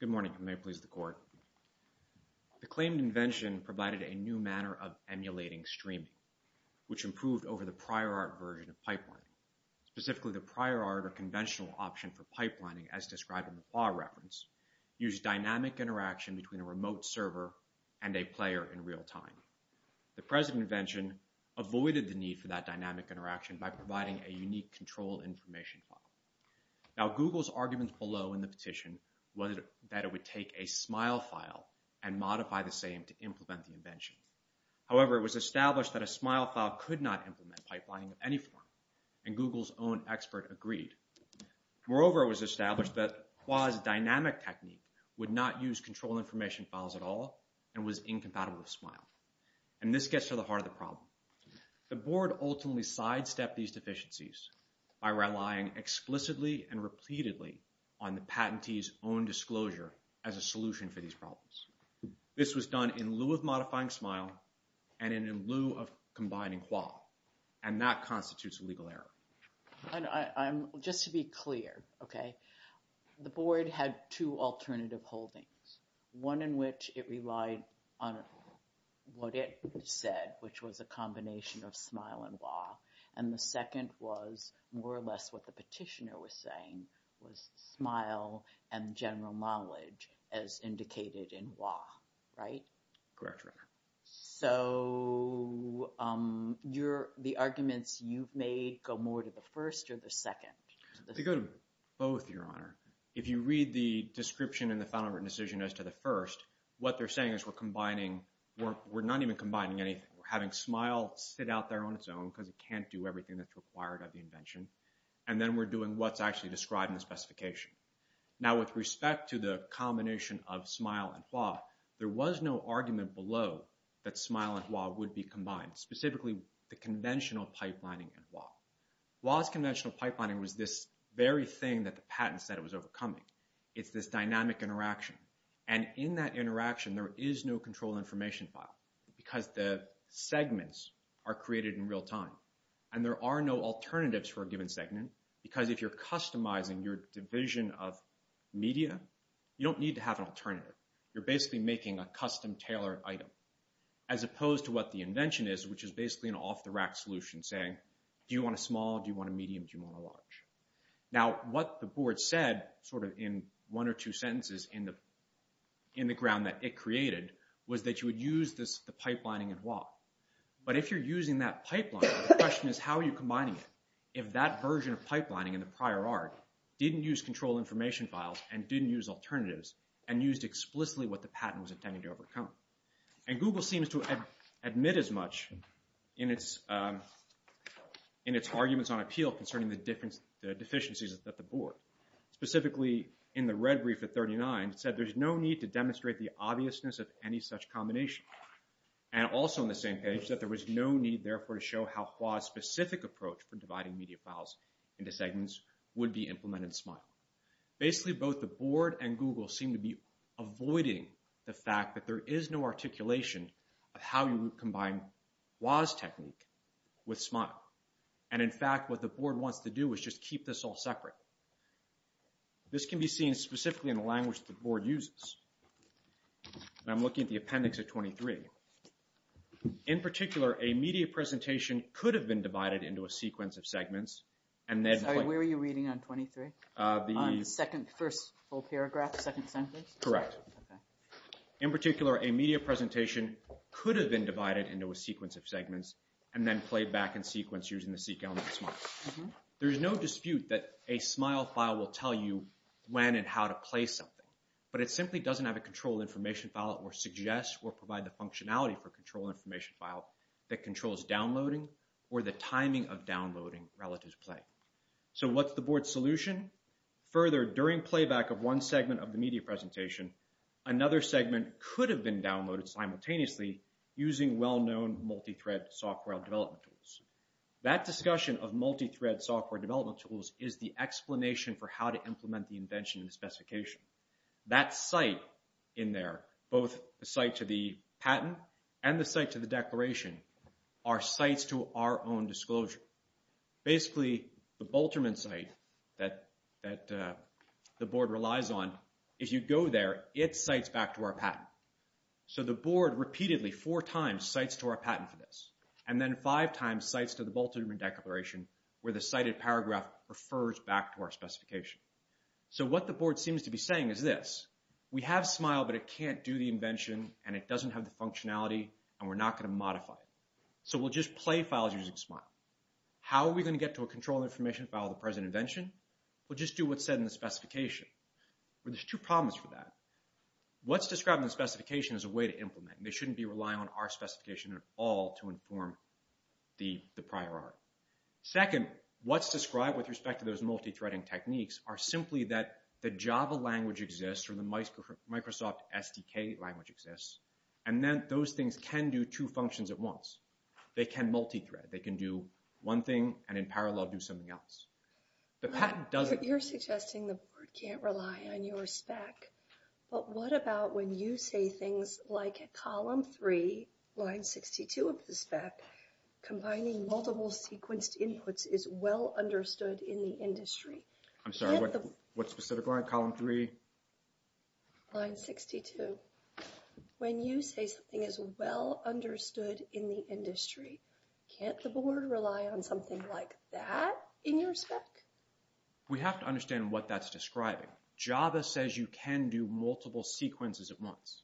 Good morning. May it please the Court. The claimed invention provided a new manner of emulating streaming, which improved over the prior art version of pipelining. Specifically, the prior art or conventional option for pipelining, as described in the PAH reference, used dynamic interaction between a remote server and a player in real time. The present invention avoided the need for that dynamic interaction by providing a unique control information file. Now, Google's arguments below in the petition was that it would take a smile file and modify the same to implement the invention. However, it was established that a smile file could not implement pipelining of any form, and Google's own expert agreed. Moreover, it was established that Qua's dynamic technique would not use control information files at all, and was to the heart of the problem. The Board ultimately sidestepped these deficiencies by relying explicitly and repeatedly on the patentee's own disclosure as a solution for these problems. This was done in lieu of modifying Smile and in lieu of combining Qua, and that constitutes a legal error. I'm just to be clear, okay? The Board had two alternative holdings, one in which it said, which was a combination of Smile and Qua, and the second was more or less what the petitioner was saying, was Smile and general knowledge as indicated in Qua, right? Correct, Your Honor. So, the arguments you've made go more to the first or the second? They go to both, Your Honor. If you read the description in the final written decision as to the first, what they're saying is we're combining, we're not even combining anything. We're having Smile sit out there on its own because it can't do everything that's required of the invention, and then we're doing what's actually described in the specification. Now with respect to the combination of Smile and Qua, there was no argument below that Smile and Qua would be combined, specifically the conventional pipelining in Qua. Qua's conventional pipelining was this very thing that the patent said it was overcoming. It's this dynamic interaction, and in that interaction, there is no control information file because the segments are created in real time, and there are no alternatives for a given segment because if you're customizing your division of media, you don't need to have an alternative. You're basically making a custom tailored item as opposed to what the invention is, which is basically an off-the-rack solution saying, do you want a small, do you want a medium, do you want a large? Now what the board said, sort of in one or two sentences in the ground that it created, was that you would use the pipelining in Qua. But if you're using that pipeline, the question is how are you combining it if that version of pipelining in the prior art didn't use control information files and didn't use alternatives and used explicitly what the patent was intending to overcome? And Google seems to admit as much in its arguments on appeal concerning the deficiencies of the board. Specifically, in the red brief at 39, it said there's no need to demonstrate the obviousness of any such combination. And also in the same page, it said there was no need therefore to show how Qua's specific approach for dividing media files into segments would be implemented in SMILE. Basically, both the board and Google seem to be avoiding the fact that there is no articulation of how you would combine Qua's technique with SMILE. And in fact, what the board wants to do is just keep this all separate. This can be seen specifically in the language that the board uses. And I'm looking at the appendix at 23. In particular, a media presentation could have been divided into a sequence of segments and then- Sorry, where were you reading on 23? The- On the second, first full paragraph, second sentence? Correct. Okay. In particular, a media presentation could have been divided into a sequence of segments and then played back in sequence using the seq element of SMILE. There's no dispute that a SMILE file will tell you when and how to play something, but it simply doesn't have a control information file or suggest or provide the functionality for control information file that controls downloading or the timing of downloading relative to play. So what's the board's solution? Further, during playback of one segment of the media presentation, another segment could have been downloaded simultaneously using well-known multi-thread software development tools. That discussion of multi-thread software development tools is the explanation for how to implement the invention and the specification. That site in there, both the site to the patent and the site to the declaration, are sites to our own disclosure. Basically, the Bolterman site that the board relies on, if you go there, it cites back to our patent. So the board repeatedly, four times, cites to our patent for this, and then five times cites to the Bolterman declaration where the cited paragraph refers back to our specification. So what the board seems to be saying is this. We have SMILE, but it can't do the invention, and it doesn't have the functionality, and we're not going to modify it. So we'll just play files using SMILE. How are we going to get to a control information file of the present invention? We'll just do what's said in the specification. But there's two problems for that. What's described in the specification is a way to implement, and they shouldn't be relying on our specification at all to inform the prior art. Second, what's described with respect to those multi-threading techniques are simply that the Java language exists or the Microsoft SDK language exists, and then those things can do two functions at once. They can multi-thread. They can do one thing and in parallel do something else. The patent doesn't... You're suggesting the board can't rely on your spec, but what about when you say things like at column three, line 62 of the spec, combining multiple sequenced inputs is well understood in the industry? I'm sorry, what specific line? Column three? Line 62. When you say something is well understood in the industry, can't the board rely on something like that in your spec? We have to understand what that's describing. Java says you can do multiple sequences at once.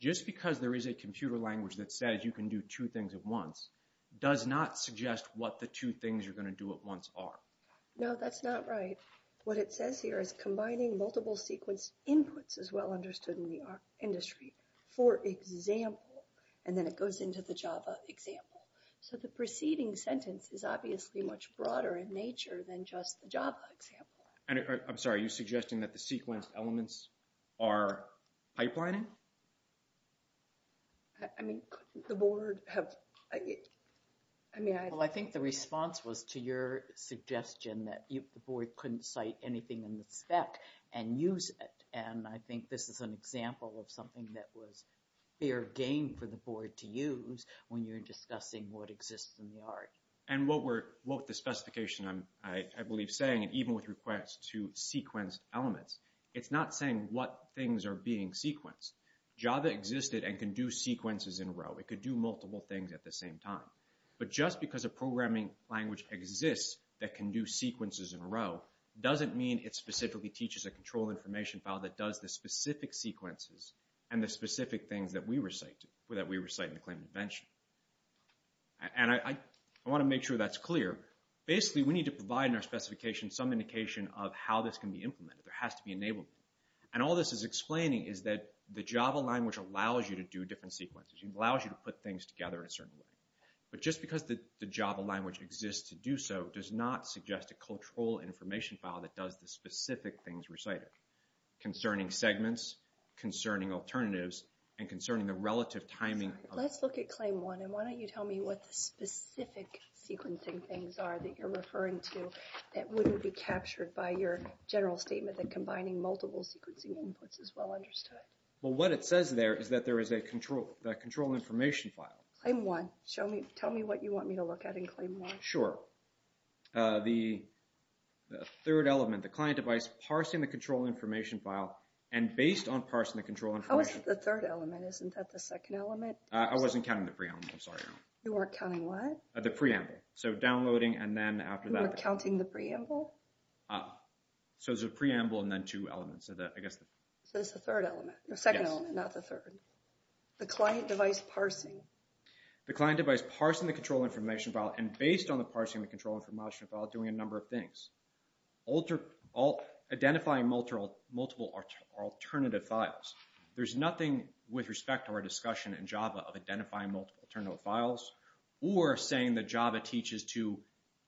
Just because there is a computer language that says you can do two things at once does not suggest what the two things you're going to do at once are. No, that's not right. What it says here is combining multiple sequenced inputs is well understood in the art industry for example, and then it goes into the Java example. So the preceding sentence is obviously much broader in nature than just the Java example. I'm sorry, are you suggesting that the sequenced was to your suggestion that the board couldn't cite anything in the spec and use it, and I think this is an example of something that was fair game for the board to use when you're discussing what exists in the art. And what the specification I believe is saying, even with requests to sequenced elements, it's not saying what things are being sequenced. Java existed and can do sequences in a row. It can do multiple things at the same time. But just because a programming language exists that can do sequences in a row doesn't mean it specifically teaches a control information file that does the specific sequences and the specific things that we recite in the claim intervention. And I want to make sure that's clear. Basically we need to provide in our specification some indication of how this can be implemented. There has to be enablement. And all this is explaining is that the Java language allows you to do different sequences. It allows you to put things together in a certain way. But just because the Java language exists to do so does not suggest a control information file that does the specific things recited concerning segments, concerning alternatives, and concerning the relative timing of... Let's look at claim one and why don't you tell me what the specific sequencing things are that you're referring to that wouldn't be captured by your general statement that combining multiple sequencing inputs is well understood. Well, what it says there is that there is a control information file. Claim one. Tell me what you want me to look at in claim one. Sure. The third element, the client device parsing the control information file and based on parsing the control information. How is it the third element? Isn't that the second element? I wasn't counting the preamble. I'm sorry. You weren't counting what? The preamble. So downloading and then after that... You weren't counting the preamble? Ah. So it's a preamble and then two elements of that, I guess. So it's the third element. The second element, not the third. The client device parsing. The client device parsing the control information file and based on the parsing the control information file doing a number of things. Identifying multiple alternative files. There's nothing with respect to our discussion in Java of identifying multiple alternative files or saying that Java teaches to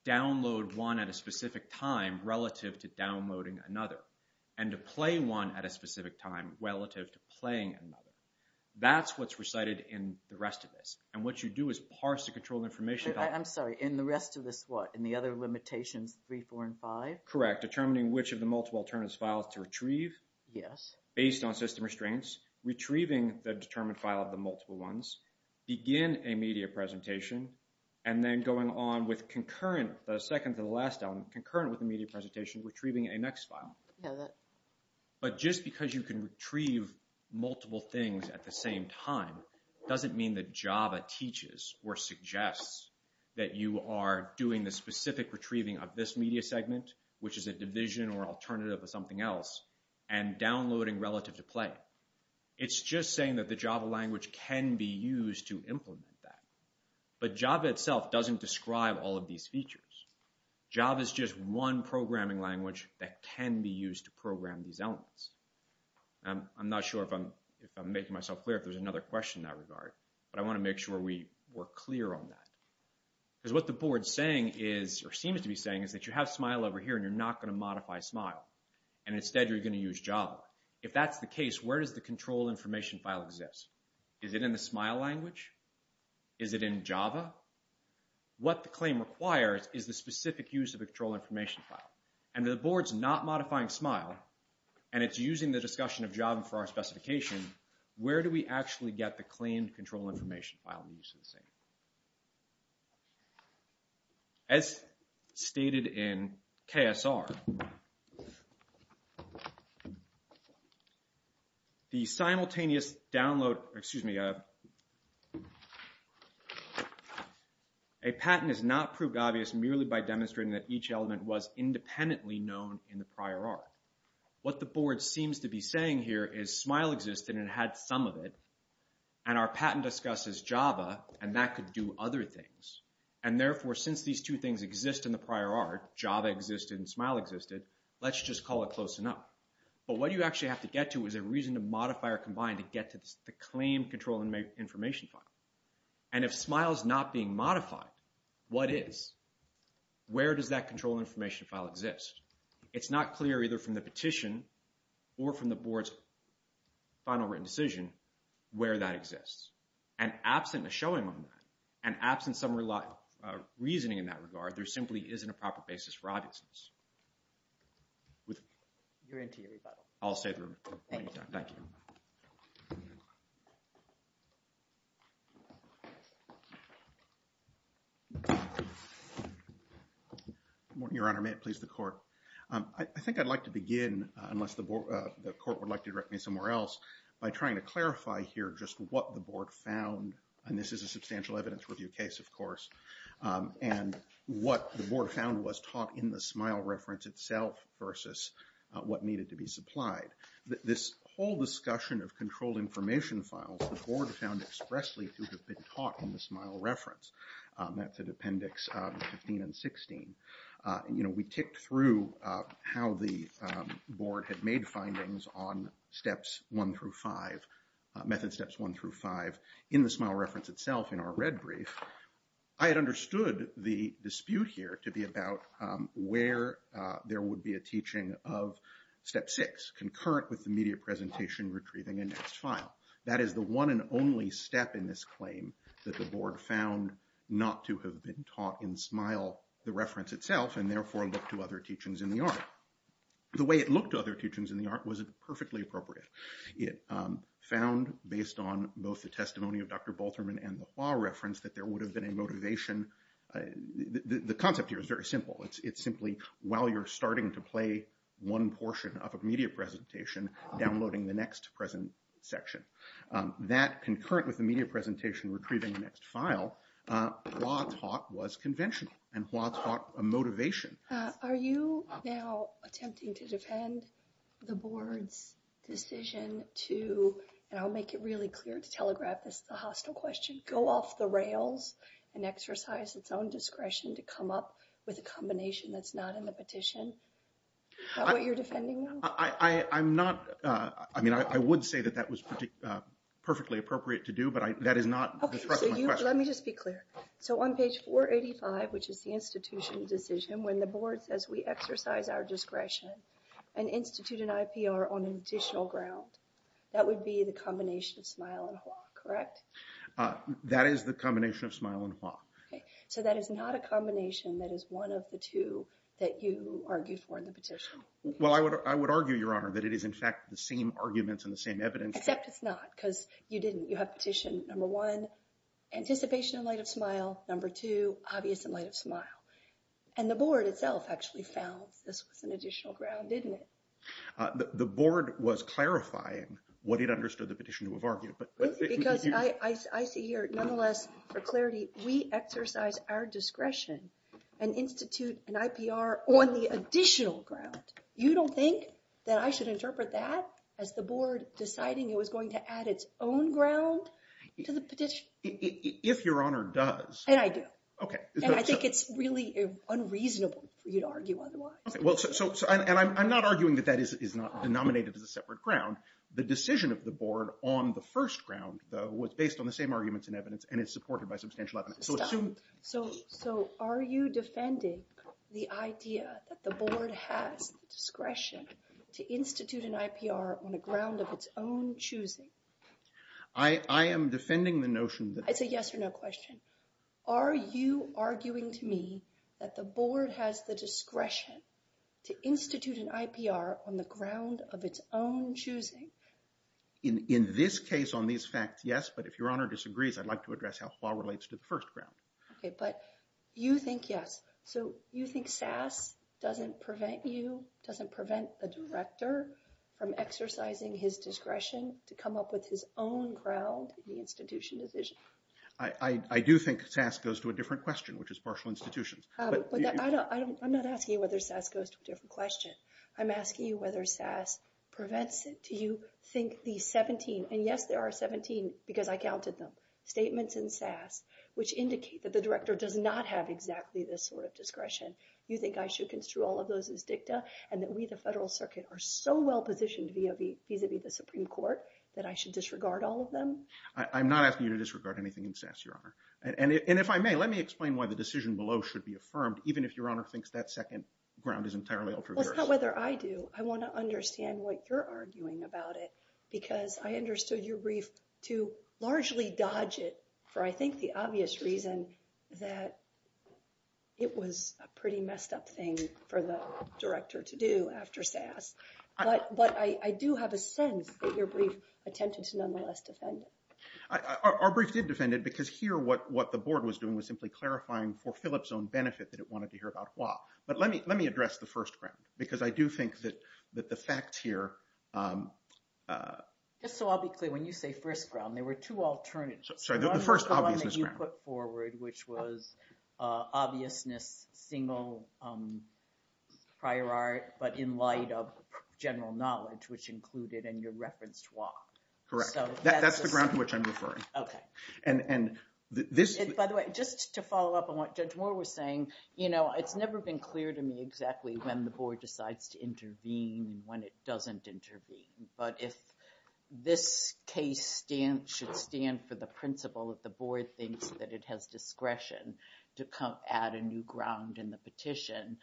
download one at a specific time relative to downloading another and to play one at a specific time relative to playing another. That's what's recited in the rest of this and what you do is parse the control information. I'm sorry. In the rest of this what? In the other limitations three, four, and five? Correct. Determining which of the multiple alternative files to retrieve. Yes. Based on system restraints. Retrieving the determined file of the multiple ones. Begin a media presentation and then going on with concurrent, the second to the last element, concurrent with the media presentation retrieving a next file. But just because you can retrieve multiple things at the same time doesn't mean that Java teaches or suggests that you are doing the specific retrieving of this media segment, which is a division or alternative of something else, and downloading relative to play. It's just saying that the Java language can be used to implement that. But Java itself doesn't describe all of these features. Java is just one programming language that can be used to program these elements. I'm not sure if I'm making myself clear if there's another question in that regard, but I want to make sure we're clear on that. Because what the board is saying is or seems to be saying is that you have Smile over here and you're not going to modify Smile and instead you're going to use Java. If that's the case, where does the control information file exist? Is it in the Smile language? Is it in Java? What the claim requires is the specific use of a control information file. And the board's not modifying Smile and it's using the discussion of Java for our specification. Where do we actually get the claimed control information file? As stated in KSR, the simultaneous download, excuse me, a patent is not proved obvious merely by demonstrating that each element was independently known in the prior art. What the board seems to be saying here is Smile existed and had some of it. And our patent discusses Java and that could do other things. And therefore, since these two things exist in the prior art, Java existed and Smile existed, let's just call it close enough. But what you actually have to get to is a reason to modify or combine to get to the claimed control information file. And if Smile's not being modified, what is? Where does that control information file exist? It's not clear either from the petition or from the board's final written decision where that exists. And absent a showing on that and absent some reasoning in that regard, there simply isn't a proper basis for obviousness. You're into your rebuttal. I'll say the rebuttal. Thank you. Your Honor, may it please the court. I think I'd like to begin, unless the court would like to direct me somewhere else, by trying to clarify here just what the board found. And this is a substantial evidence review case, of course. And what the board found was taught in the Smile reference itself versus what needed to be supplied. This whole discussion of control information files, the board found expressly to have been taught in the Smile reference. That's at appendix 15 and 16. You know, we ticked through how the board had made findings on steps one through five, method steps one through five in the Smile reference itself in our red brief. I had understood the dispute here to be about where there would be a teaching of step six, concurrent with the media presentation retrieving a next file. That is the one and only step in this claim that the board found not to have been taught in Smile, the reference itself, and therefore looked to other teachings in the art. The way it looked to other teachings in the art wasn't perfectly appropriate. It found, based on both the testimony of Dr. Bolterman and the Hua reference, that there would have been a motivation. The concept here is very simple. It's simply, while you're starting to play one portion of a media presentation, downloading the next present section. That concurrent with the media presentation retrieving the next file, Hua taught was conventional, and Hua taught a motivation. Are you now attempting to defend the board's decision to, and I'll make it really clear to Telegraph, this is a hostile question, go off the rails and exercise its own discretion to come up with a combination that's not in the petition? Is that what you're defending now? I'm not, I mean, I would say that that was perfectly appropriate to do, but that is not the thrust of my question. Let me just be clear. So on page 485, which is the institution decision, when the board says we exercise our discretion and institute an IPR on an additional ground, that would be the combination of Smile and Hua, correct? That is the combination of Smile and Hua. Okay, so that is not a combination that is one of the two that you argued for in the petition? Well, I would argue, Your Honor, that it is, in fact, the same arguments and the same evidence. Except it's not, because you didn't. You have petition number one, anticipation in light of Smile, number two, obvious in light of Smile. And the board itself actually found this was an additional ground, didn't it? The board was clarifying what it understood the petition to have argued. Because I see here, nonetheless, for clarity, we exercise our discretion and institute an IPR on the additional ground. You don't think that I should interpret that as the board deciding it was going to add its own ground to the petition? If Your Honor does. And I do. Okay. And I think it's really unreasonable for you to argue otherwise. Well, and I'm not arguing that that is not denominated as a separate ground. The decision of the board on the first ground, though, was based on the same arguments and evidence, and it's supported by substantial evidence. Stop. So are you defending the idea that the board has the discretion to institute an IPR on a ground of its own choosing? I am defending the notion that... It's a yes or no question. Are you arguing to me that the board has the discretion to institute an IPR on the ground of its own choosing? In this case, on these facts, yes. But if Your Honor disagrees, I'd like to address how HWAA relates to the first ground. Okay. But you think yes. So you think SAS doesn't prevent you, doesn't prevent the director from exercising his discretion to come up with his own ground in the institution decision? I do think SAS goes to a different question, which is partial institutions. But I'm not asking you whether SAS goes to a different question. I'm asking you whether SAS prevents it. Do you think the 17... And yes, there are 17, because I counted them, statements in SAS, which indicate that the director does not have exactly this sort of discretion. You think I should construe all of those as dicta and that we, the Federal Circuit, are so well positioned vis-a-vis the Supreme Court that I should disregard all of them? I'm not asking you to disregard anything in SAS, Your Honor. And if I may, let me explain why the decision below should be affirmed, even if Your Honor thinks that second ground is entirely altruistic. Well, it's not whether I do. I want to understand what you're arguing about it, because I understood your brief to largely dodge it for, I think, the obvious reason that it was a pretty messed up thing for the director to do after SAS. But I do have a sense that your brief attempted to nonetheless defend it. Our brief did defend it, because here what the board was doing was simply clarifying for Phillips' own benefit that it wanted to hear about Hua. But let me address the first ground, because I do think that the facts here... Just so I'll be clear, when you say first ground, there were two alternatives. Sorry, the first obviousness ground. The one that you put forward, which was obviousness, single prior art, but in light of general knowledge, which included and you referenced Hua. Correct. That's the ground to which I'm referring. Okay. And this... Just to follow up on what Judge Moore was saying, it's never been clear to me exactly when the board decides to intervene and when it doesn't intervene. But if this case should stand for the principle that the board thinks that it has discretion to come add a new ground in the petition,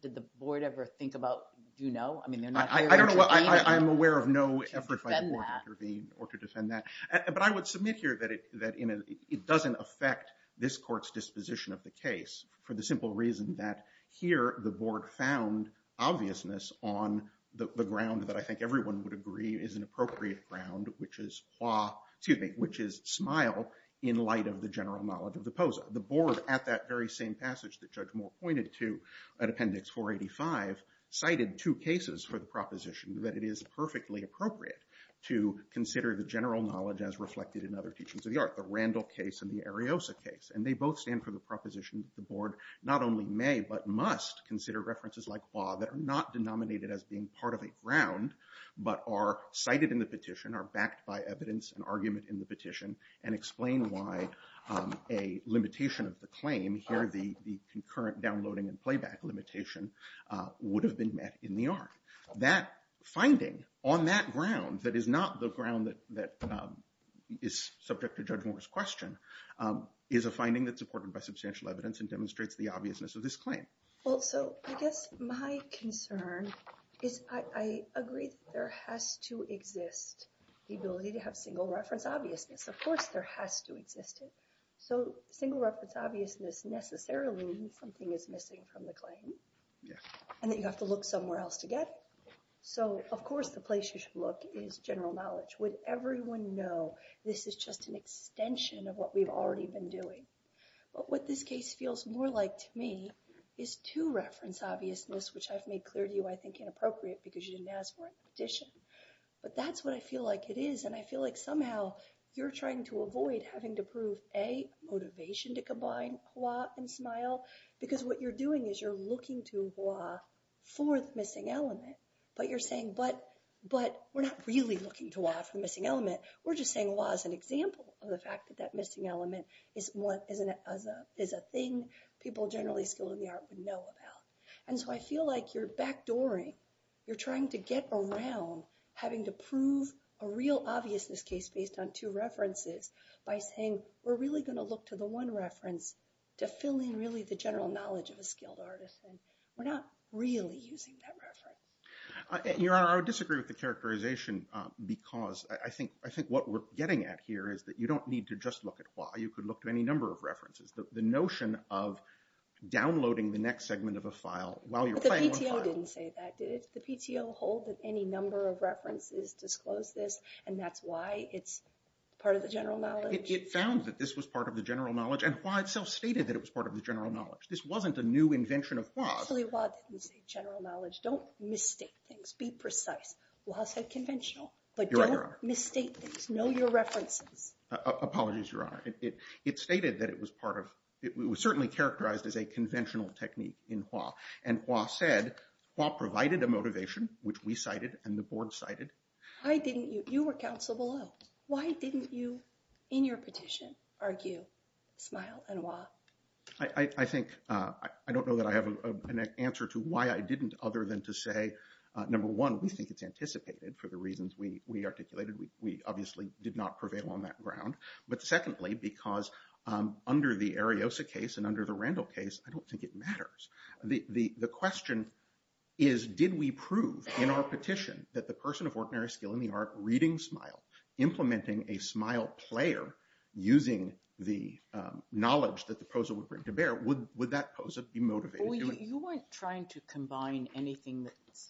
did the board ever think about... Do you know? I mean, they're not here to intervene. I'm aware of no effort by the board to intervene or to defend that. But I would submit here that it doesn't affect this court's disposition of the case for the simple reason that here, the board found obviousness on the ground that I think everyone would agree is an appropriate ground, which is Hua, excuse me, which is smile in light of the general knowledge of the posa. The board at that very same passage that Judge Moore pointed to at Appendix 485, cited two cases for the proposition that it is perfectly appropriate to consider the general knowledge as reflected in other teachings of the art, the Randall case and the Ariosa case. And they both stand for the proposition that the board not only may, but must consider references like Hua that are not denominated as being part of a ground, but are cited in the petition, are backed by evidence and argument in the petition, and explain why a limitation of the claim here, the concurrent downloading and playback limitation would have been met in the art. That finding on that ground that is not the ground that is subject to Judge Moore's question is a finding that's supported by substantial evidence and demonstrates the obviousness of this claim. Well, so I guess my concern is I agree that there has to exist the ability to have single reference obviousness. Of course, there has to exist it. So single reference obviousness necessarily means something is missing from the claim. And that you have to look somewhere else to get it. So of course, the place you should look is general knowledge. Would everyone know this is just an extension of what we've already been doing? But what this case feels more like to me is two reference obviousness, which I've made clear to you I think inappropriate because you didn't ask for it in the petition. But that's what I feel like it is. And I feel like somehow you're trying to avoid having to prove, A, motivation to combine Hua and Smile, because what you're doing is you're looking to Hua, fourth missing element. But you're saying, but we're not really looking to Hua for the missing element. We're just saying Hua is an example of the fact that that missing element is a thing people generally skilled in the art would know about. And so I feel like you're backdooring. You're trying to get around having to prove a real obviousness case based on two references by saying, we're really gonna look to the one reference to fill in really the general knowledge of a skilled artisan. We're not really using that reference. Your Honor, I would disagree with the characterization because I think what we're getting at here is that you don't need to just look at Hua. You could look to any number of references. The notion of downloading the next segment of a file while you're playing with Hua. But the PTO didn't say that, did it? The PTO hold that any number of references disclose this, and that's why it's part of the general knowledge? It found that this was part of the general knowledge, and Hua itself stated that it was part of the general knowledge. This wasn't a new invention of Hua. Actually, Hua didn't say general knowledge. Don't misstate things. Be precise. Hua said conventional. But don't misstate things. Know your references. Apologies, Your Honor. It stated that it was part of, it was certainly characterized as a conventional technique in Hua. And Hua said, Hua provided a motivation, which we cited and the board cited. Why didn't you? You were counsel below. Why didn't you, in your petition, argue Smile and Hua? I think, I don't know that I have an answer to why I didn't, other than to say, number one, we think it's anticipated for the reasons we articulated. We obviously did not prevail on that ground. But secondly, because under the Ariosa case and under the Randall case, I don't think it matters. The question is, did we prove in our petition that the person of ordinary skill in the art reading Smile, implementing a Smile player, using the knowledge that the POSA would bring to bear, would that POSA be motivated? You weren't trying to combine anything that's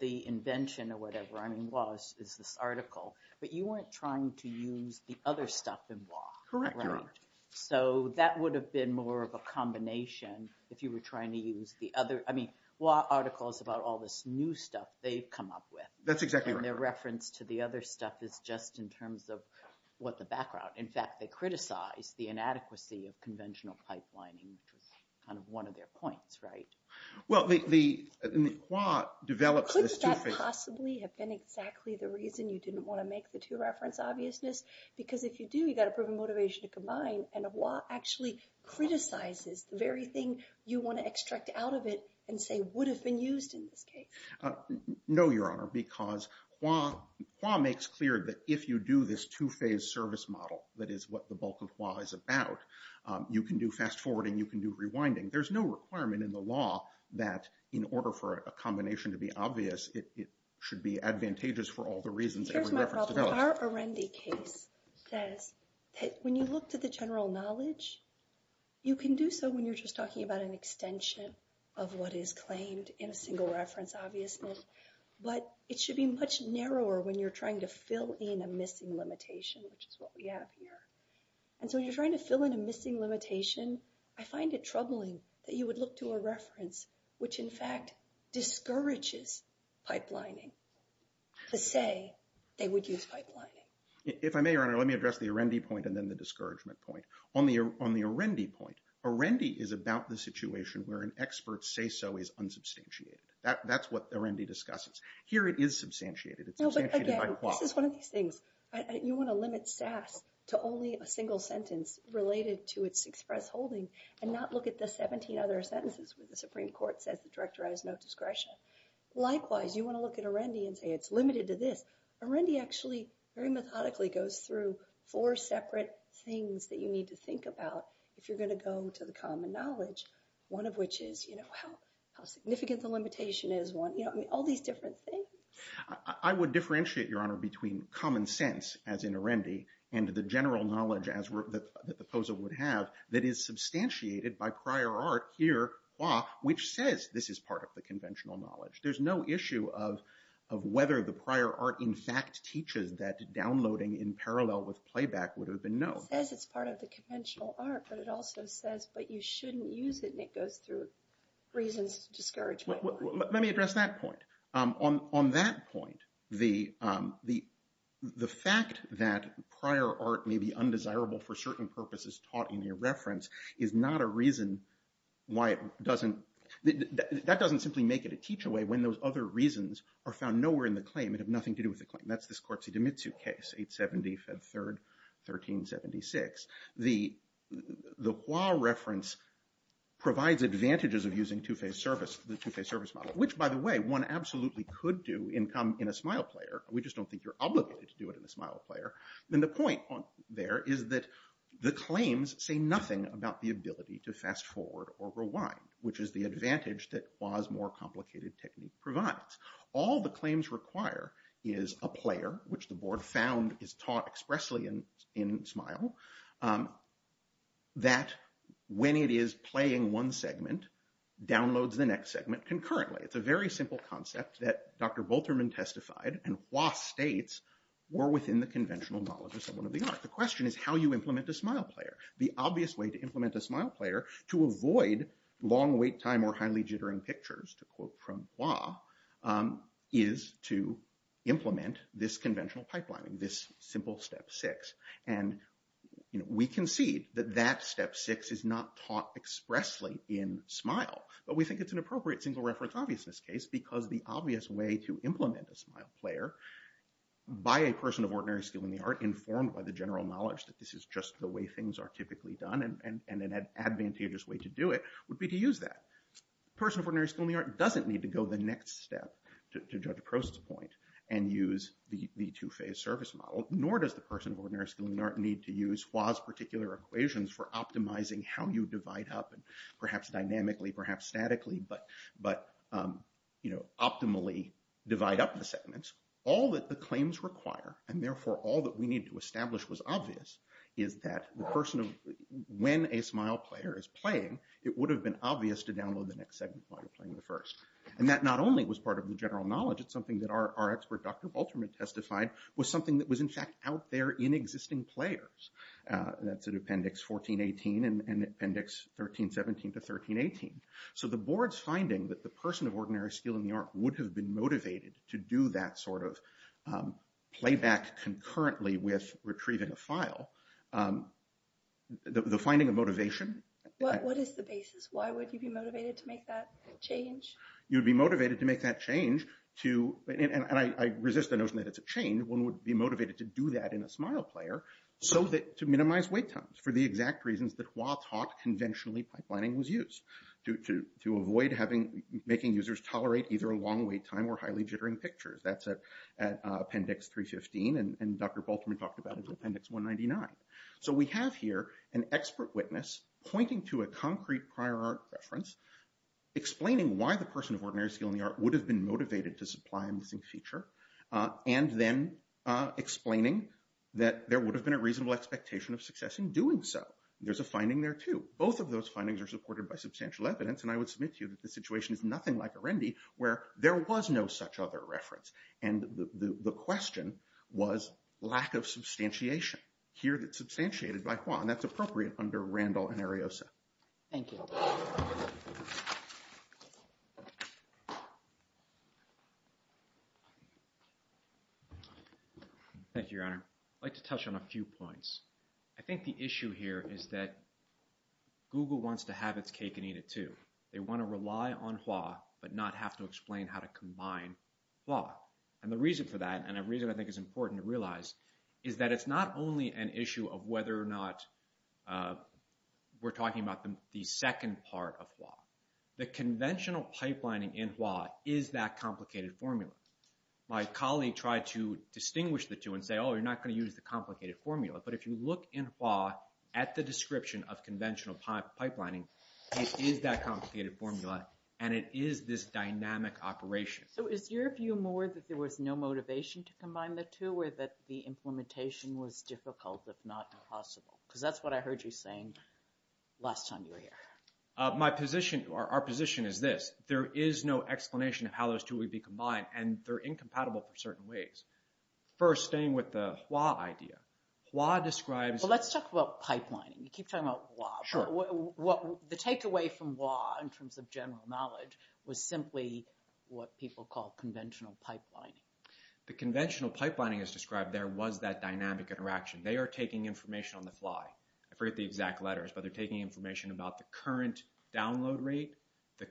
the invention or whatever. I mean, Hua is this article. But you weren't trying to use the other stuff in Hua. Correct, Your Honor. So that would have been more of a combination if you were trying to use the other. I mean, Hua articles about all this new stuff, they've come up with. That's exactly right. Their reference to the other stuff is just in terms of what the background. In fact, they criticize the inadequacy of conventional pipelining, which was kind of one of their points, right? Well, Hua develops this two-phase- Couldn't that possibly have been exactly the reason you didn't want to make the two-reference obviousness? Because if you do, you've got a proven motivation to combine. And Hua actually criticizes the very thing you want to extract out of it and say would have been used in this case. No, Your Honor, because Hua makes clear that if you do this two-phase service model, that is what the bulk of Hua is about, you can do fast-forwarding, you can do rewinding. There's no requirement in the law that in order for a combination to be obvious, it should be advantageous for all the reasons- Here's my problem. Our Arendi case says that when you look to the general knowledge, you can do so when you're just talking about an extension of what is claimed in a single-reference obviousness. But it should be much narrower when you're trying to fill in a missing limitation, which is what we have here. And so when you're trying to fill in a missing limitation, I find it troubling that you would look to a reference which in fact discourages pipelining to say they would use pipelining. If I may, Your Honor, let me address the Arendi point and then the discouragement point. On the Arendi point, Arendi is about the situation where an expert say-so is unsubstantiated. That's what Arendi discusses. Here it is substantiated. It's substantiated by Hua. This is one of these things. You want to limit SAS to only a single sentence related to its express holding and not look at the 17 other sentences where the Supreme Court says the director has no discretion. Likewise, you want to look at Arendi and say it's limited to this. Arendi actually very methodically goes through four separate things that you need to think about if you're going to go to the common knowledge, one of which is how significant the limitation is. All these different things. I would differentiate, Your Honor, between common sense as in Arendi and the general knowledge that the POSA would have that is substantiated by prior art here, Hua, which says this is part of the conventional knowledge. There's no issue of whether the prior art in fact teaches that downloading in parallel with playback would have been known. It says it's part of the conventional art, but it also says, but you shouldn't use it, and it goes through reasons of discouragement. Let me address that point. On that point, the fact that prior art may be undesirable for certain purposes taught in your reference is not a reason why it doesn't, that doesn't simply make it a teach away when those other reasons are found nowhere in the claim and have nothing to do with the claim. That's the Scorzi-DiMizu case, 870, Fed 3rd, 1376. The Hua reference provides advantages of using two-phase service, the two-phase service model, which, by the way, one absolutely could do in a Smile player. We just don't think you're obligated to do it in a Smile player. Then the point there is that the claims say nothing about the ability to fast forward or rewind, which is the advantage that Hua's more complicated technique provides. All the claims require is a player, which the board found is taught expressly in Smile, that when it is playing one segment, downloads the next segment concurrently. It's a very simple concept that Dr. Volterman testified and Hua states were within the conventional knowledge of someone of the art. The question is how you implement a Smile player. The obvious way to implement a Smile player to avoid long wait time or highly jittering pictures, to quote from Hua, is to implement this conventional pipelining, this simple step six. And we concede that that step six is not taught expressly in Smile, but we think it's an appropriate single reference, because the obvious way to implement a Smile player by a person of ordinary skill in the art, informed by the general knowledge that this is just the way things are typically done, and an advantageous way to do it, would be to use that. A person of ordinary skill in the art doesn't need to go the next step to judge a process point and use the two-phase service model, nor does the person of ordinary skill in the art need to use Hua's particular equations for optimizing how you divide up, and perhaps dynamically, perhaps statically, but optimally divide up the segments. All that the claims require, and therefore all that we need to establish was obvious, is that the person of, when a Smile player is playing, it would have been obvious to download the next segment while you're playing the first. And that not only was part of the general knowledge, it's something that our expert Dr. Baltimore testified was something that was in fact out there in existing players. That's in appendix 1418 and appendix 1317 to 1318. So the board's finding that the person of ordinary skill in the art would have been motivated to do that sort of playback concurrently with retrieving a file, the finding of motivation... What is the basis? Why would you be motivated to make that change? You'd be motivated to make that change to, and I resist the notion that it's a chain, one would be motivated to do that in a Smile player so that to minimize wait times for the exact reasons that Hua taught conventionally pipelining was used. To avoid having, making users tolerate either a long wait time or highly jittering pictures. That's at appendix 315 and Dr. Baltimore talked about it in appendix 199. So we have here an expert witness pointing to a concrete prior art reference, explaining why the person of ordinary skill in the art would have been motivated to supply a missing feature and then explaining that there would have been a reasonable expectation of success in doing so. There's a finding there too. Both of those findings are supported by substantial evidence and I would submit to you that the situation is nothing like Arendi where there was no such other reference and the question was lack of substantiation. Here that's substantiated by Hua and that's appropriate under Randall and Ariosa. Thank you. Thank you, your honor. I'd like to touch on a few points. I think the issue here is that Google wants to have its cake and eat it too. They want to rely on Hua but not have to explain how to combine Hua. And the reason for that and a reason I think is important to realize is that it's not only an issue of whether or not we're talking about the second part of Hua. The conventional pipelining in Hua is that complicated formula. My colleague tried to distinguish the two and say oh you're not going to use the complicated formula but if you look in Hua at the description of conventional pipelining it is that complicated formula and it is this dynamic operation. So is your view more that there was no motivation to combine the two or that the implementation was difficult if not impossible? Because that's what I heard you saying last time you were here. My position or our position is this there is no explanation of how those two would be combined and they're incompatible for certain ways. First staying with the Hua idea. Hua describes Let's talk about pipelining. You keep talking about Hua. The takeaway from Hua in terms of general knowledge was simply what people call conventional pipelining. The conventional pipelining is described there was that dynamic interaction. They are taking information on the fly. I forget the exact letters but they're taking information about the current download rate, The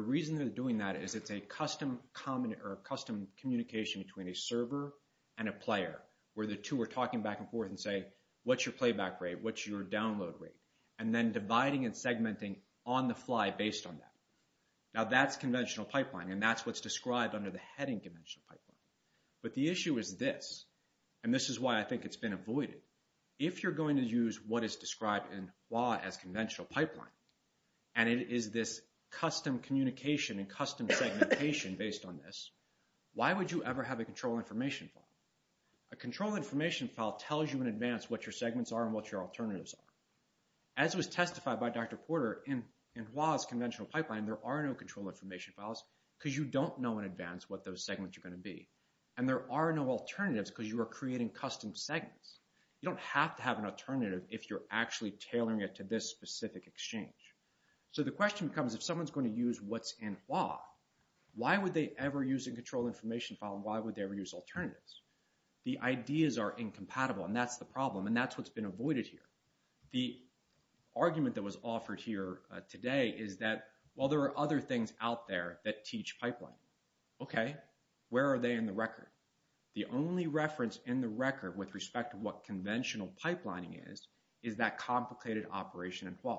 reason they're doing that is it's a custom communication between a server and a player where the two are talking back and forth and say what's your playback rate? What's your download rate? And then dividing and segmenting on the fly based on that. Now that's conventional pipeline and that's what's described under the heading conventional pipeline. But the issue is this and this is why I think it's been avoided. If you're going to use what is described in Hua as conventional pipeline and it is this custom communication and custom segmentation based on this why would you ever have a control information file? A control information file tells you in advance what your segments are and what your alternatives are. As was testified by Dr. Porter in Hua's conventional pipeline there are no control information files because you don't know in advance what those segments are going to be and there are no alternatives because you are creating custom segments. You don't have to have an alternative if you're actually tailoring it to this specific exchange. So the question becomes if someone's going to use what's in Hua why would they ever use a control information file? Why would they ever use alternatives? The ideas are incompatible and that's the problem and that's what's been avoided here. The argument that was offered here today is that while there are other things out there that teach pipeline okay where are they in the record? The only reference in the record with respect to what conventional pipelining is is that complicated operation in Hua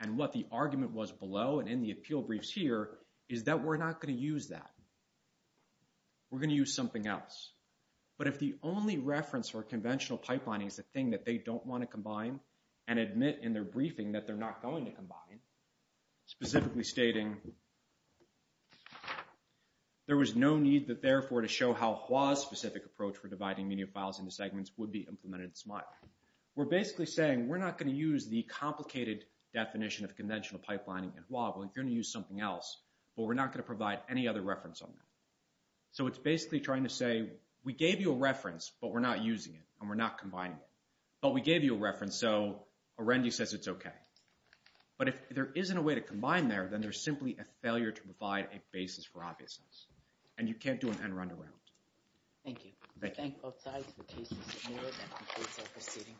and what the argument was below and in the appeal briefs here is that we're not going to use that. We're going to use something else. But if the only reference for conventional pipelining is the thing that they don't want to combine and admit in their briefing that they're not going to combine specifically stating there was no need that therefore to show how Hua's specific approach for dividing media files into segments would be implemented in SMART. We're basically saying we're not going to use the complicated definition of conventional pipelining in Hua. We're going to use something else but we're not going to provide any other reference on that. So it's basically trying to say we gave you a reference but we're not using it and we're not combining it but we gave you a reference so Arundhati says it's okay. But if there isn't a way to combine there then there's simply a failure to provide a basis for obviousness and you can't do an end round around. Thank you. I thank both sides for taking some more that concludes our proceeding for this morning.